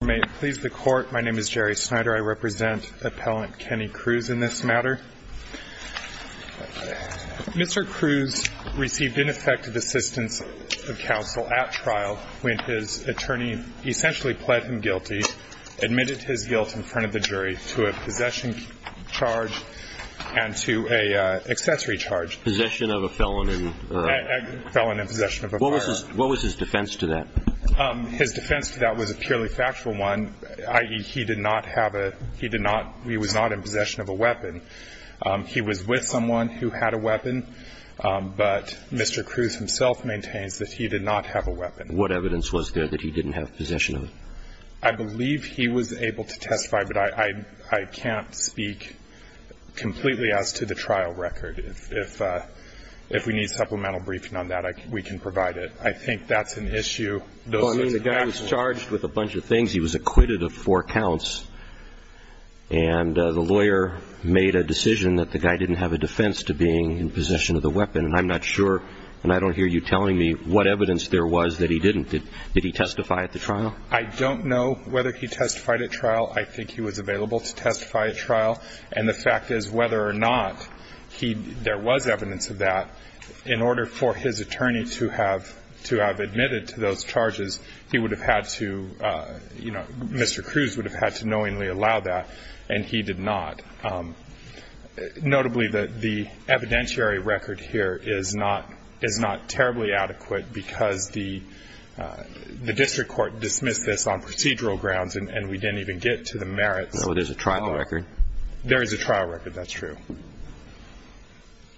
May it please the Court, my name is Jerry Snyder. I represent appellant Kenny Kruse in this matter. Mr. Kruse received ineffective assistance of counsel at trial when his attorney essentially pled him guilty, admitted his guilt in front of the jury to a possession charge and to an accessory charge. Possession of a felon and possession of a firearm. What was his defense to that? His defense to that was a purely factual one, i.e., he did not have a, he did not, he was not in possession of a weapon. He was with someone who had a weapon, but Mr. Kruse himself maintains that he did not have a weapon. What evidence was there that he didn't have possession of? I believe he was able to testify, but I can't speak completely as to the trial record. If we need supplemental briefing on that, we can provide it. I think that's an issue. I mean, the guy was charged with a bunch of things. He was acquitted of four counts. And the lawyer made a decision that the guy didn't have a defense to being in possession of the weapon. And I'm not sure, and I don't hear you telling me what evidence there was that he didn't. Did he testify at the trial? I don't know whether he testified at trial. I think he was available to testify at trial. And the fact is, whether or not there was evidence of that, in order for his attorney to have admitted to those charges, he would have had to, you know, Mr. Kruse would have had to knowingly allow that, and he did not. Notably, the evidentiary record here is not terribly adequate because the district court dismissed this on procedural grounds and we didn't even get to the merits. No, there's a trial record. There is a trial record, that's true.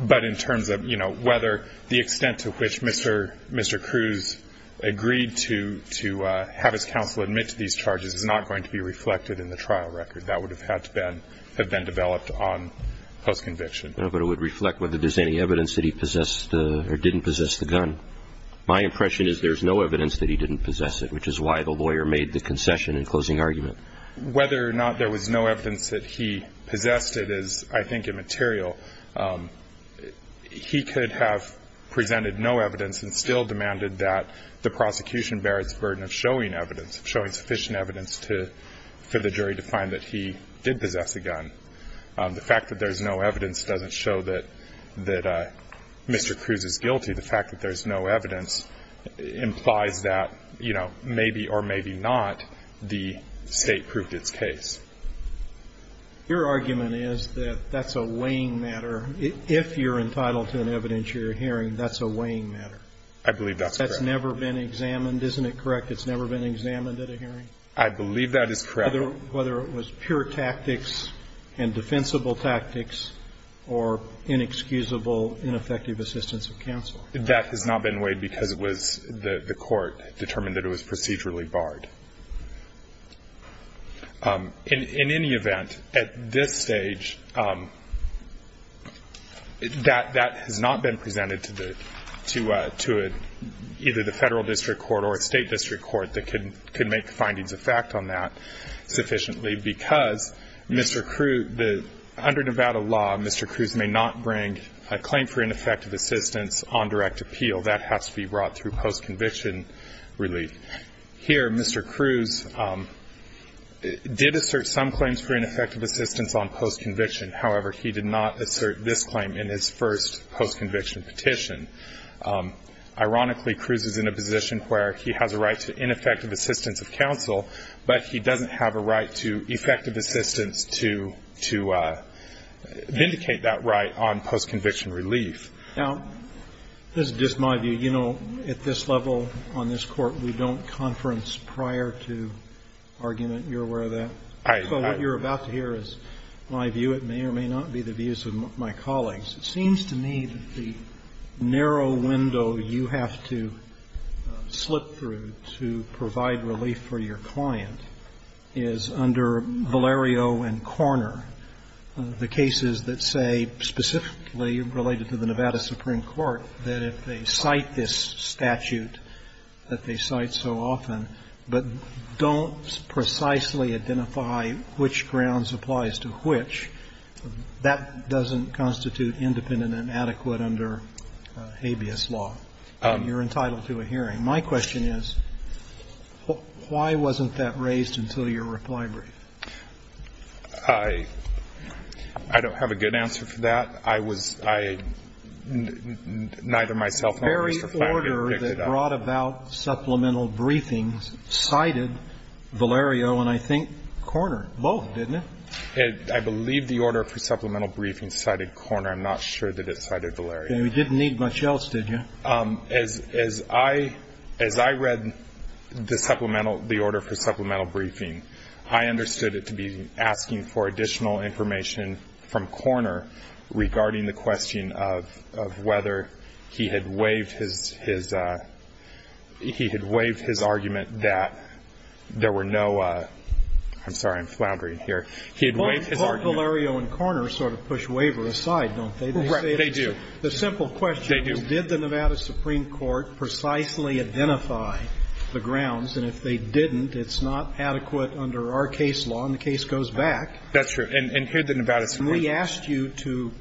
But in terms of, you know, whether the extent to which Mr. Kruse agreed to have his counsel admit to these charges is not going to be reflected in the trial record. That would have had to have been developed on post-conviction. No, but it would reflect whether there's any evidence that he possessed or didn't possess the gun. My impression is there's no evidence that he didn't possess it, which is why the lawyer made the concession in closing argument. Whether or not there was no evidence that he possessed it is, I think, immaterial. He could have presented no evidence and still demanded that the prosecution bear its burden of showing evidence, showing sufficient evidence for the jury to find that he did possess a gun. The fact that there's no evidence doesn't show that Mr. Kruse is guilty. The fact that there's no evidence implies that, you know, maybe or maybe not the State proved its case. Your argument is that that's a weighing matter. If you're entitled to an evidentiary hearing, that's a weighing matter. I believe that's correct. That's never been examined. Isn't it correct? It's never been examined at a hearing? I believe that is correct. Whether it was pure tactics and defensible tactics or inexcusable, ineffective assistance of counsel. That has not been weighed because it was the court determined that it was procedurally barred. In any event, at this stage, that has not been presented to either the Federal district court or a State district court that could make findings of fact on that sufficiently because Mr. Kruse, under Nevada law, Mr. Kruse may not bring a claim for ineffective assistance on direct appeal. That has to be brought through post-conviction relief. Here, Mr. Kruse did assert some claims for ineffective assistance on post-conviction. However, he did not assert this claim in his first post-conviction petition. Ironically, Kruse is in a position where he has a right to ineffective assistance of counsel, but he doesn't have a right to effective assistance to vindicate that right on post-conviction relief. Now, this is just my view. You know, at this level on this Court, we don't conference prior to argument. You're aware of that? So what you're about to hear is my view. It may or may not be the views of my colleagues. It seems to me that the narrow window you have to slip through to provide relief for your client is under Valerio and Korner, the cases that say specifically related to the Nevada Supreme Court that if they cite this statute that they cite so often but don't precisely identify which grounds applies to which, that doesn't constitute independent and adequate under habeas law. You're entitled to a hearing. My question is, why wasn't that raised until your reply brief? I don't have a good answer for that. I was, I, neither myself nor Mr. Flanagan picked it up. The very order that brought about supplemental briefings cited Valerio and I think Korner, both, didn't it? I believe the order for supplemental briefings cited Korner. I'm not sure that it cited Valerio. We didn't need much else, did you? As I read the supplemental, the order for supplemental briefing, I understood it to be asking for additional information from Korner regarding the question of whether he had waived his, he had waived his argument that there were no, I'm sorry, I'm floundering here. He had waived his argument. Well, both Valerio and Korner sort of push waiver aside, don't they? Right. They do. The simple question is, did the Nevada Supreme Court precisely identify the grounds? And if they didn't, it's not adequate under our case law, and the case goes back. That's true. And here the Nevada Supreme Court. And we asked you to,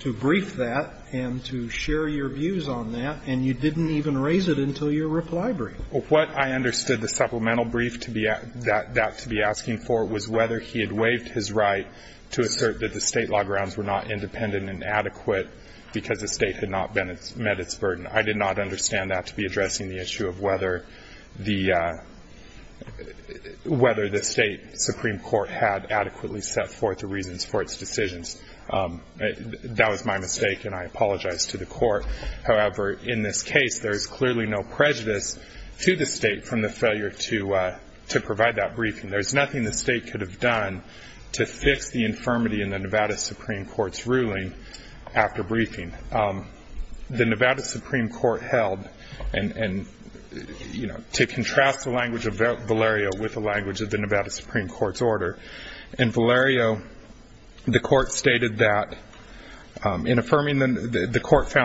to brief that and to share your views on that, and you didn't even raise it until your reply brief. What I understood the supplemental brief to be, that to be asking for was whether he had waived his right to assert that the State law grounds were not independent and adequate because the State had not met its burden. I did not understand that to be addressing the issue of whether the, whether the State Supreme Court had adequately set forth the reasons for its decisions. That was my mistake, and I apologize to the Court. However, in this case, there's clearly no prejudice to the State from the failure to, to provide that briefing. There's nothing the State could have done to fix the infirmity in the Nevada Supreme Court's ruling after briefing. The Nevada Supreme Court held, and, and, you know, to contrast the language of Valerio with the language of the Nevada Supreme Court's order, in Valerio, the court found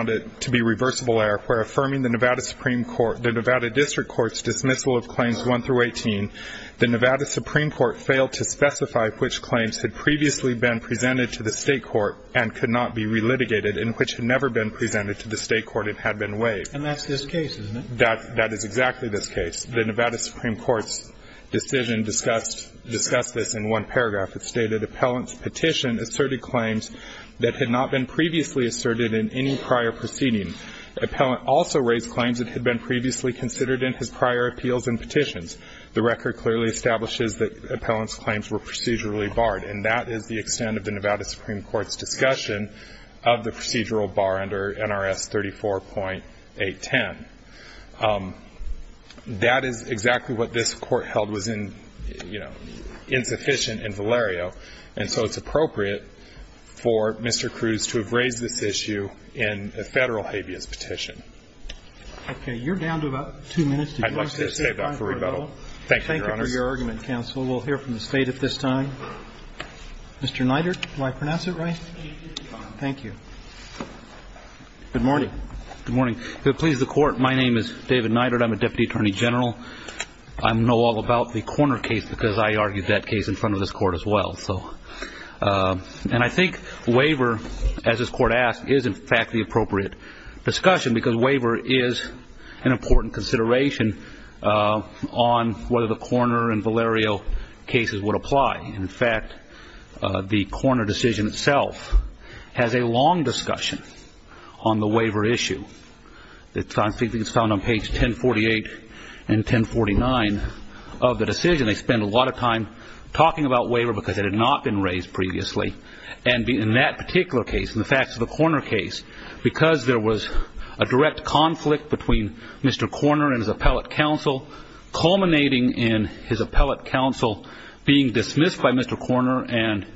it to be reversible error, where affirming the Nevada Supreme Court, the Nevada District Court's dismissal of claims 1 through 18, the Nevada Supreme Court failed to specify which claims had previously been presented to the State Court and could not be relitigated, and which had never been presented to the State Court and had been waived. And that's this case, isn't it? That, that is exactly this case. The Nevada Supreme Court's decision discussed, discussed this in one paragraph. It stated, asserted claims that had not been previously asserted in any prior proceeding. The appellant also raised claims that had been previously considered in his prior appeals and petitions. The record clearly establishes that the appellant's claims were procedurally barred. And that is the extent of the Nevada Supreme Court's discussion of the procedural bar under NRS 34.810. That is exactly what this Court held was in, you know, insufficient in Valerio. And so it's appropriate for Mr. Cruz to have raised this issue in a Federal habeas petition. Okay. You're down to about two minutes to go. I'd like to just save that for rebuttal. Thank you, Your Honors. Thank you for your argument, Counsel. We'll hear from the State at this time. Mr. Neidert, did I pronounce it right? Thank you. Good morning. Good morning. If it pleases the Court, my name is David Neidert. I'm a Deputy Attorney General. I know all about the Korner case because I argued that case in front of this Court as well. And I think waiver, as this Court asked, is, in fact, the appropriate discussion because waiver is an important consideration on whether the Korner and Valerio cases would apply. In fact, the Korner decision itself has a long discussion on the waiver issue. It's found on page 1048 and 1049 of the decision. They spend a lot of time talking about waiver because it had not been raised previously. And in that particular case, in the facts of the Korner case, because there was a direct conflict between Mr. Korner and his appellate counsel, culminating in his release by Mr. Korner and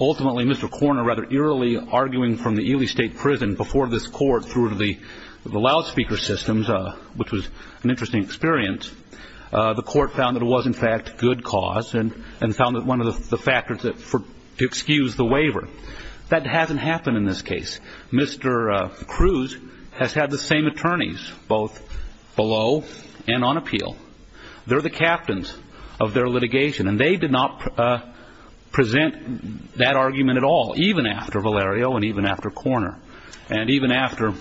ultimately Mr. Korner rather eerily arguing from the Ely State Prison before this Court through the loudspeaker systems, which was an interesting experience, the Court found that it was, in fact, good cause and found that one of the factors to excuse the waiver. That hasn't happened in this case. Mr. Cruz has had the same attorneys both below and on appeal. They're the captains of their litigation. And they did not present that argument at all, even after Valerio and even after Korner, and even after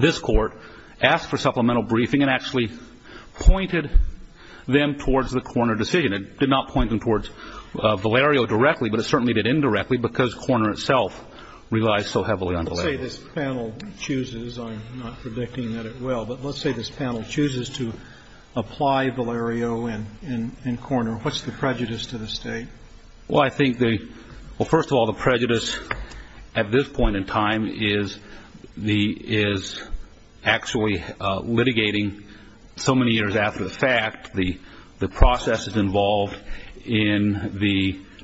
this Court asked for supplemental briefing and actually pointed them towards the Korner decision. It did not point them towards Valerio directly, but it certainly did indirectly because Korner itself relies so heavily on Valerio. Let's say this panel chooses, I'm not predicting that it will, but let's say this panel chooses to apply Valerio and Korner. What's the prejudice to the State? Well, I think the, well, first of all, the prejudice at this point in time is the, is actually litigating so many years after the fact the processes involved in the process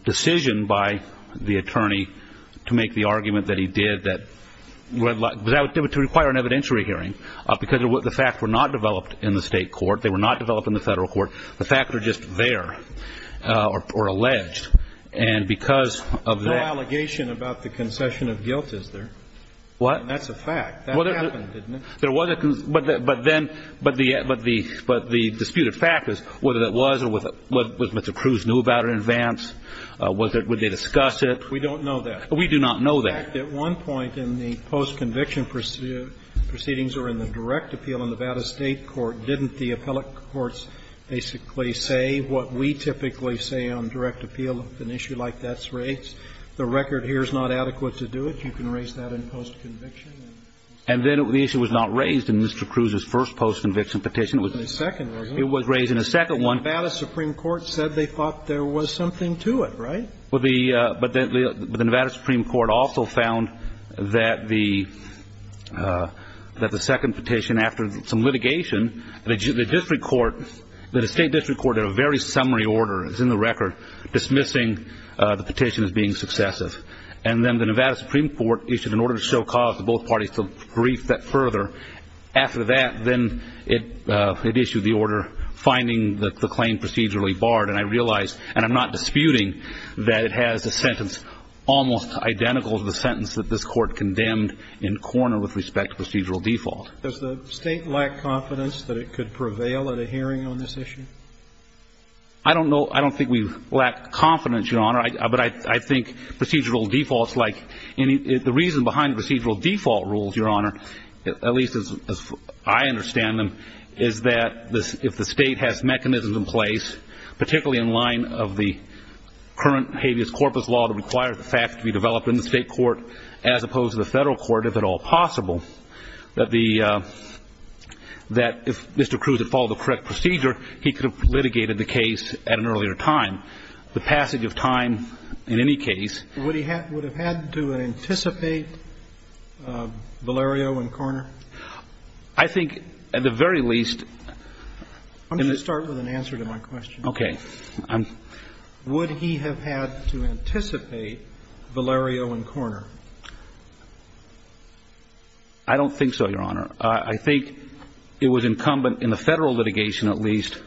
to require an evidentiary hearing because the facts were not developed in the State court. They were not developed in the Federal court. The facts are just there, or alleged, and because of the. No allegation about the concession of guilt is there. What? That's a fact. That happened, didn't it? There was a concession. But then, but the disputed fact is whether that was or what Mr. Cruz knew about in advance. Would they discuss it? We don't know that. We do not know that. In fact, at one point in the post-conviction proceedings or in the direct appeal in Nevada State court, didn't the appellate courts basically say what we typically say on direct appeal, an issue like that's raised? The record here is not adequate to do it. You can raise that in post-conviction. And then the issue was not raised in Mr. Cruz's first post-conviction petition. It was in his second, wasn't it? It was raised in his second one. The Nevada Supreme Court said they thought there was something to it, right? But the Nevada Supreme Court also found that the second petition, after some litigation, the district court, the state district court did a very summary order. It's in the record dismissing the petition as being successive. And then the Nevada Supreme Court issued an order to show cause to both parties to brief that further. After that, then it issued the order finding the claim procedurally barred. And I realize, and I'm not disputing, that it has a sentence almost identical to the sentence that this court condemned in corner with respect to procedural default. Does the state lack confidence that it could prevail at a hearing on this issue? I don't know. I don't think we lack confidence, Your Honor. But I think procedural default is like any the reason behind procedural default rules, Your Honor, at least as I understand them, is that if the state has mechanisms in place, particularly in line of the current habeas corpus law that requires the fact to be developed in the state court as opposed to the federal court, if at all possible, that if Mr. Cruz had followed the correct procedure, he could have litigated the case at an earlier time. The passage of time, in any case. Would he have had to anticipate Valerio in corner? I think at the very least. I'm going to start with an answer to my question. Okay. Would he have had to anticipate Valerio in corner? I don't think so, Your Honor. I think it was incumbent in the federal litigation at least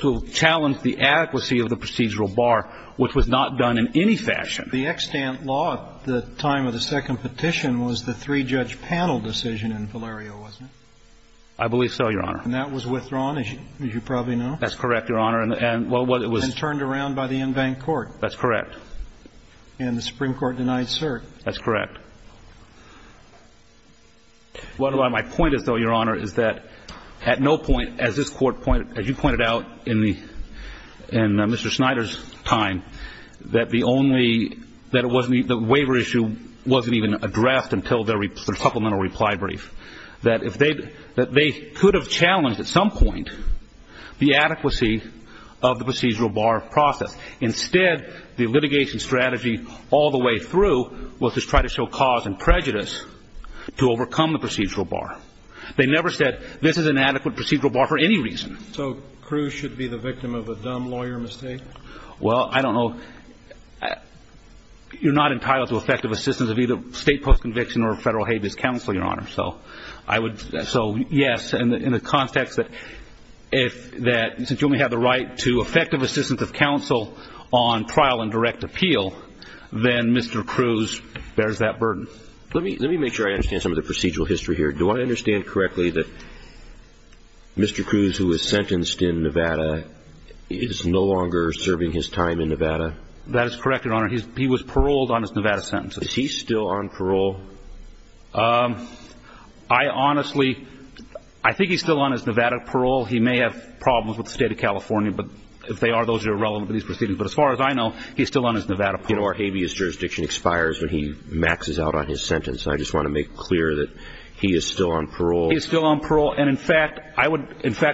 to challenge the adequacy of the procedural bar, which was not done in any fashion. The extant law at the time of the second petition was the three-judge panel decision I believe so, Your Honor. And that was withdrawn, as you probably know. That's correct, Your Honor. And turned around by the en banc court. That's correct. And the Supreme Court denied cert. That's correct. My point is, though, Your Honor, is that at no point, as this Court pointed out, as you pointed out in Mr. Snyder's time, that the waiver issue wasn't even addressed until the supplemental reply brief. That they could have challenged at some point the adequacy of the procedural bar process. Instead, the litigation strategy all the way through was to try to show cause and prejudice to overcome the procedural bar. They never said this is an adequate procedural bar for any reason. So Cruz should be the victim of a dumb lawyer mistake? Well, I don't know. You're not entitled to effective assistance of either state post-conviction or federal habeas counsel, Your Honor. So yes, in the context that since you only have the right to effective assistance of counsel on trial and direct appeal, then Mr. Cruz bears that burden. Let me make sure I understand some of the procedural history here. Do I understand correctly that Mr. Cruz, who was sentenced in Nevada, is no longer serving his time in Nevada? That is correct, Your Honor. He was paroled on his Nevada sentence. Is he still on parole? I honestly, I think he's still on his Nevada parole. He may have problems with the state of California. But if they are, those are irrelevant to these proceedings. But as far as I know, he's still on his Nevada parole. You know, our habeas jurisdiction expires when he maxes out on his sentence. I just want to make clear that he is still on parole. He's still on parole. And in fact,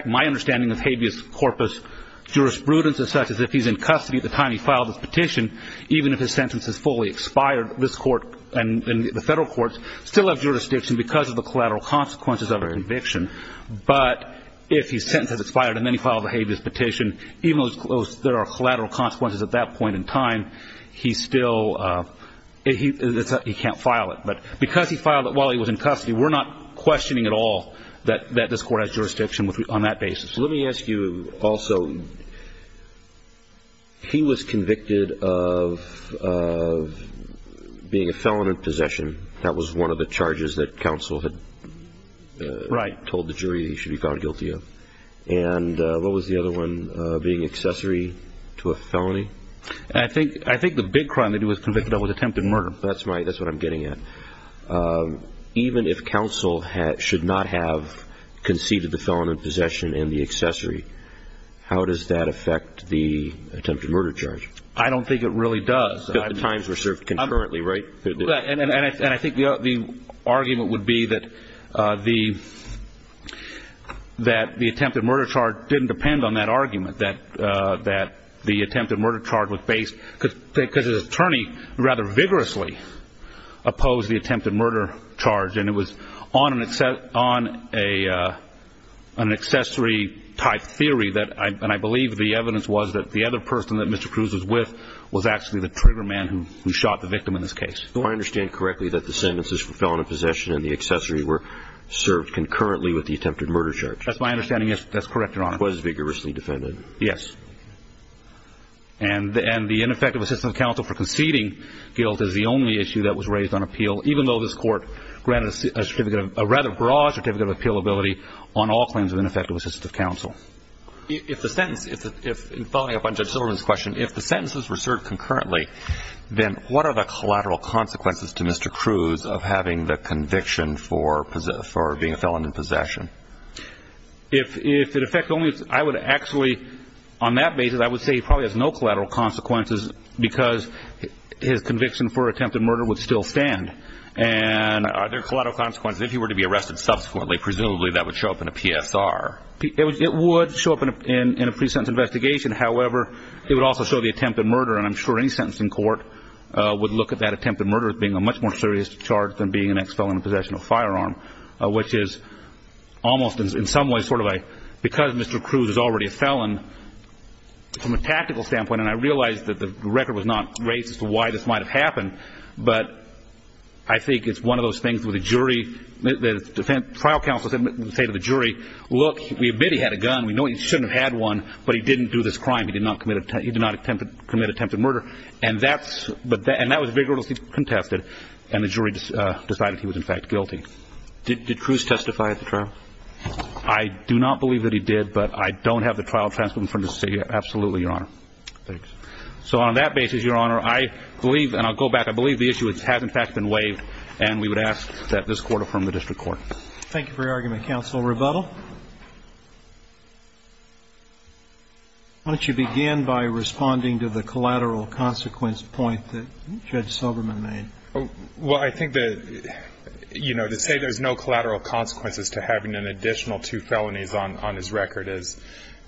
my understanding of habeas corpus jurisprudence is such that if he's in custody at the time he filed his petition, even if his sentence is fully expired, this court and the federal courts still have jurisdiction because of the collateral consequences of an eviction. But if his sentence is expired and then he filed a habeas petition, even though there are collateral consequences at that point in time, he still, he can't file it. But because he filed it while he was in custody, we're not questioning at all that this court has jurisdiction on that basis. Let me ask you also, he was convicted of being a felon in possession. That was one of the charges that counsel had told the jury he should be found guilty of. And what was the other one, being accessory to a felony? I think the big crime that he was convicted of was attempted murder. That's right. That's what I'm getting at. Even if counsel should not have conceded the felon in possession and the accessory, how does that affect the attempted murder charge? I don't think it really does. The times were served concurrently, right? And I think the argument would be that the attempted murder charge didn't depend on that argument, that the attempted murder charge was based, because the attorney rather vigorously opposed the attempted murder charge, and it was on an accessory-type theory, and I believe the evidence was that the other person that Mr. Cruz was with was actually the trigger man who shot the victim in this case. Do I understand correctly that the sentences for felon in possession and the accessory were served concurrently with the attempted murder charge? That's my understanding, yes. That's correct, Your Honor. Was vigorously defended. Yes. And the ineffective assistance of counsel for conceding guilt is the only issue that was raised on appeal, even though this Court granted a rather broad certificate of appealability on all claims of ineffective assistance of counsel. If the sentence, following up on Judge Silverman's question, if the sentences were served concurrently, then what are the collateral consequences to Mr. Cruz of having the conviction for being a felon in possession? If in effect only, I would actually, on that basis, I would say he probably has no collateral consequences because his conviction for attempted murder would still stand. And are there collateral consequences if he were to be arrested subsequently? Presumably that would show up in a PSR. It would show up in a pre-sentence investigation. However, it would also show the attempted murder, and I'm sure any sentencing court would look at that attempted murder as being a much more serious charge than being an ex-felon in possession of a firearm, which is almost in some ways sort of a, because Mr. Cruz is already a felon, from a tactical standpoint, and I realize that the record was not raised as to why this might have happened, but I think it's one of those things where the jury, the trial counsel would say to the jury, look, we admit he had a gun, we know he shouldn't have had one, but he didn't do this crime. He did not commit attempted murder. And that was vigorously contested, and the jury decided he was in fact guilty. Did Cruz testify at the trial? I do not believe that he did, but I don't have the trial transcript in front of me to say absolutely, Your Honor. Thanks. So on that basis, Your Honor, I believe, and I'll go back, I believe the issue has in fact been waived, and we would ask that this court affirm the district court. Thank you for your argument, counsel. Rebuttal? Why don't you begin by responding to the collateral consequence point that Judge Silberman made? Well, I think that, you know, to say there's no collateral consequences to having an additional two felonies on his record is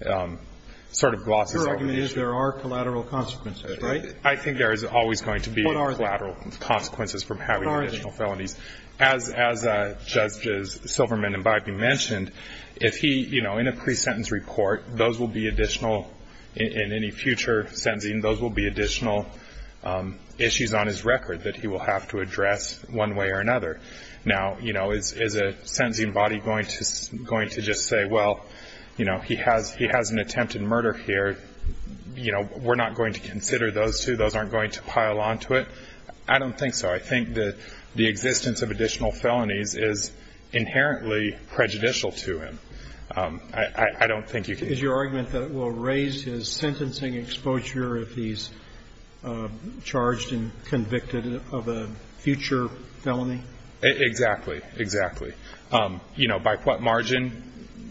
sort of glossing over the issue. Your argument is there are collateral consequences, right? I think there is always going to be collateral consequences from having additional felonies. What are they? As Judges Silberman and Bybee mentioned, if he, you know, in a pre-sentence report, those will be additional, in any future sentencing, those will be additional issues on his record that he will have to address one way or another. Now, you know, is a sentencing body going to just say, well, you know, he has an attempted murder here. You know, we're not going to consider those two. Those aren't going to pile onto it. I don't think so. I think that the existence of additional felonies is inherently prejudicial to him. I don't think you can. Is your argument that it will raise his sentencing exposure if he's charged and convicted of a future felony? Exactly. Exactly. You know, by what margin?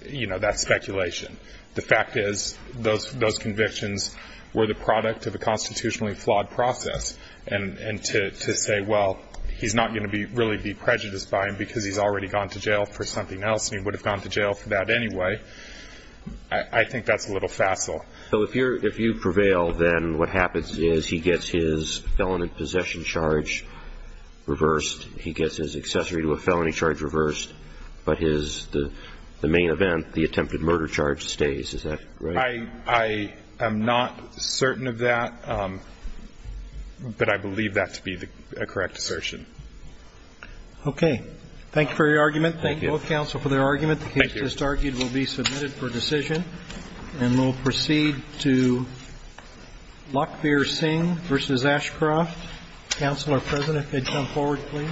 You know, that's speculation. The fact is those convictions were the product of a constitutionally flawed process. And to say, well, he's not going to be really be prejudiced by him because he's already gone to jail for something else, and he would have gone to jail for that anyway, I think that's a little facile. So if you prevail, then what happens is he gets his felon in possession charge reversed. He gets his accessory to a felony charge reversed. But the main event, the attempted murder charge, stays. Is that right? I am not certain of that. But I believe that to be a correct assertion. Okay. Thank you for your argument. Thank both counsel for their argument. The case just argued will be submitted for decision. And we'll proceed to Lockbeer-Singh v. Ashcroft. Counselor, President, if you'd come forward, please.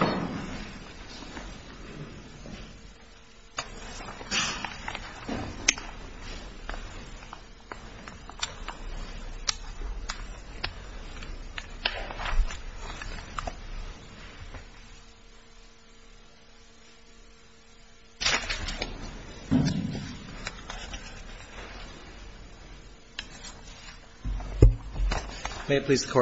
May it please the Court.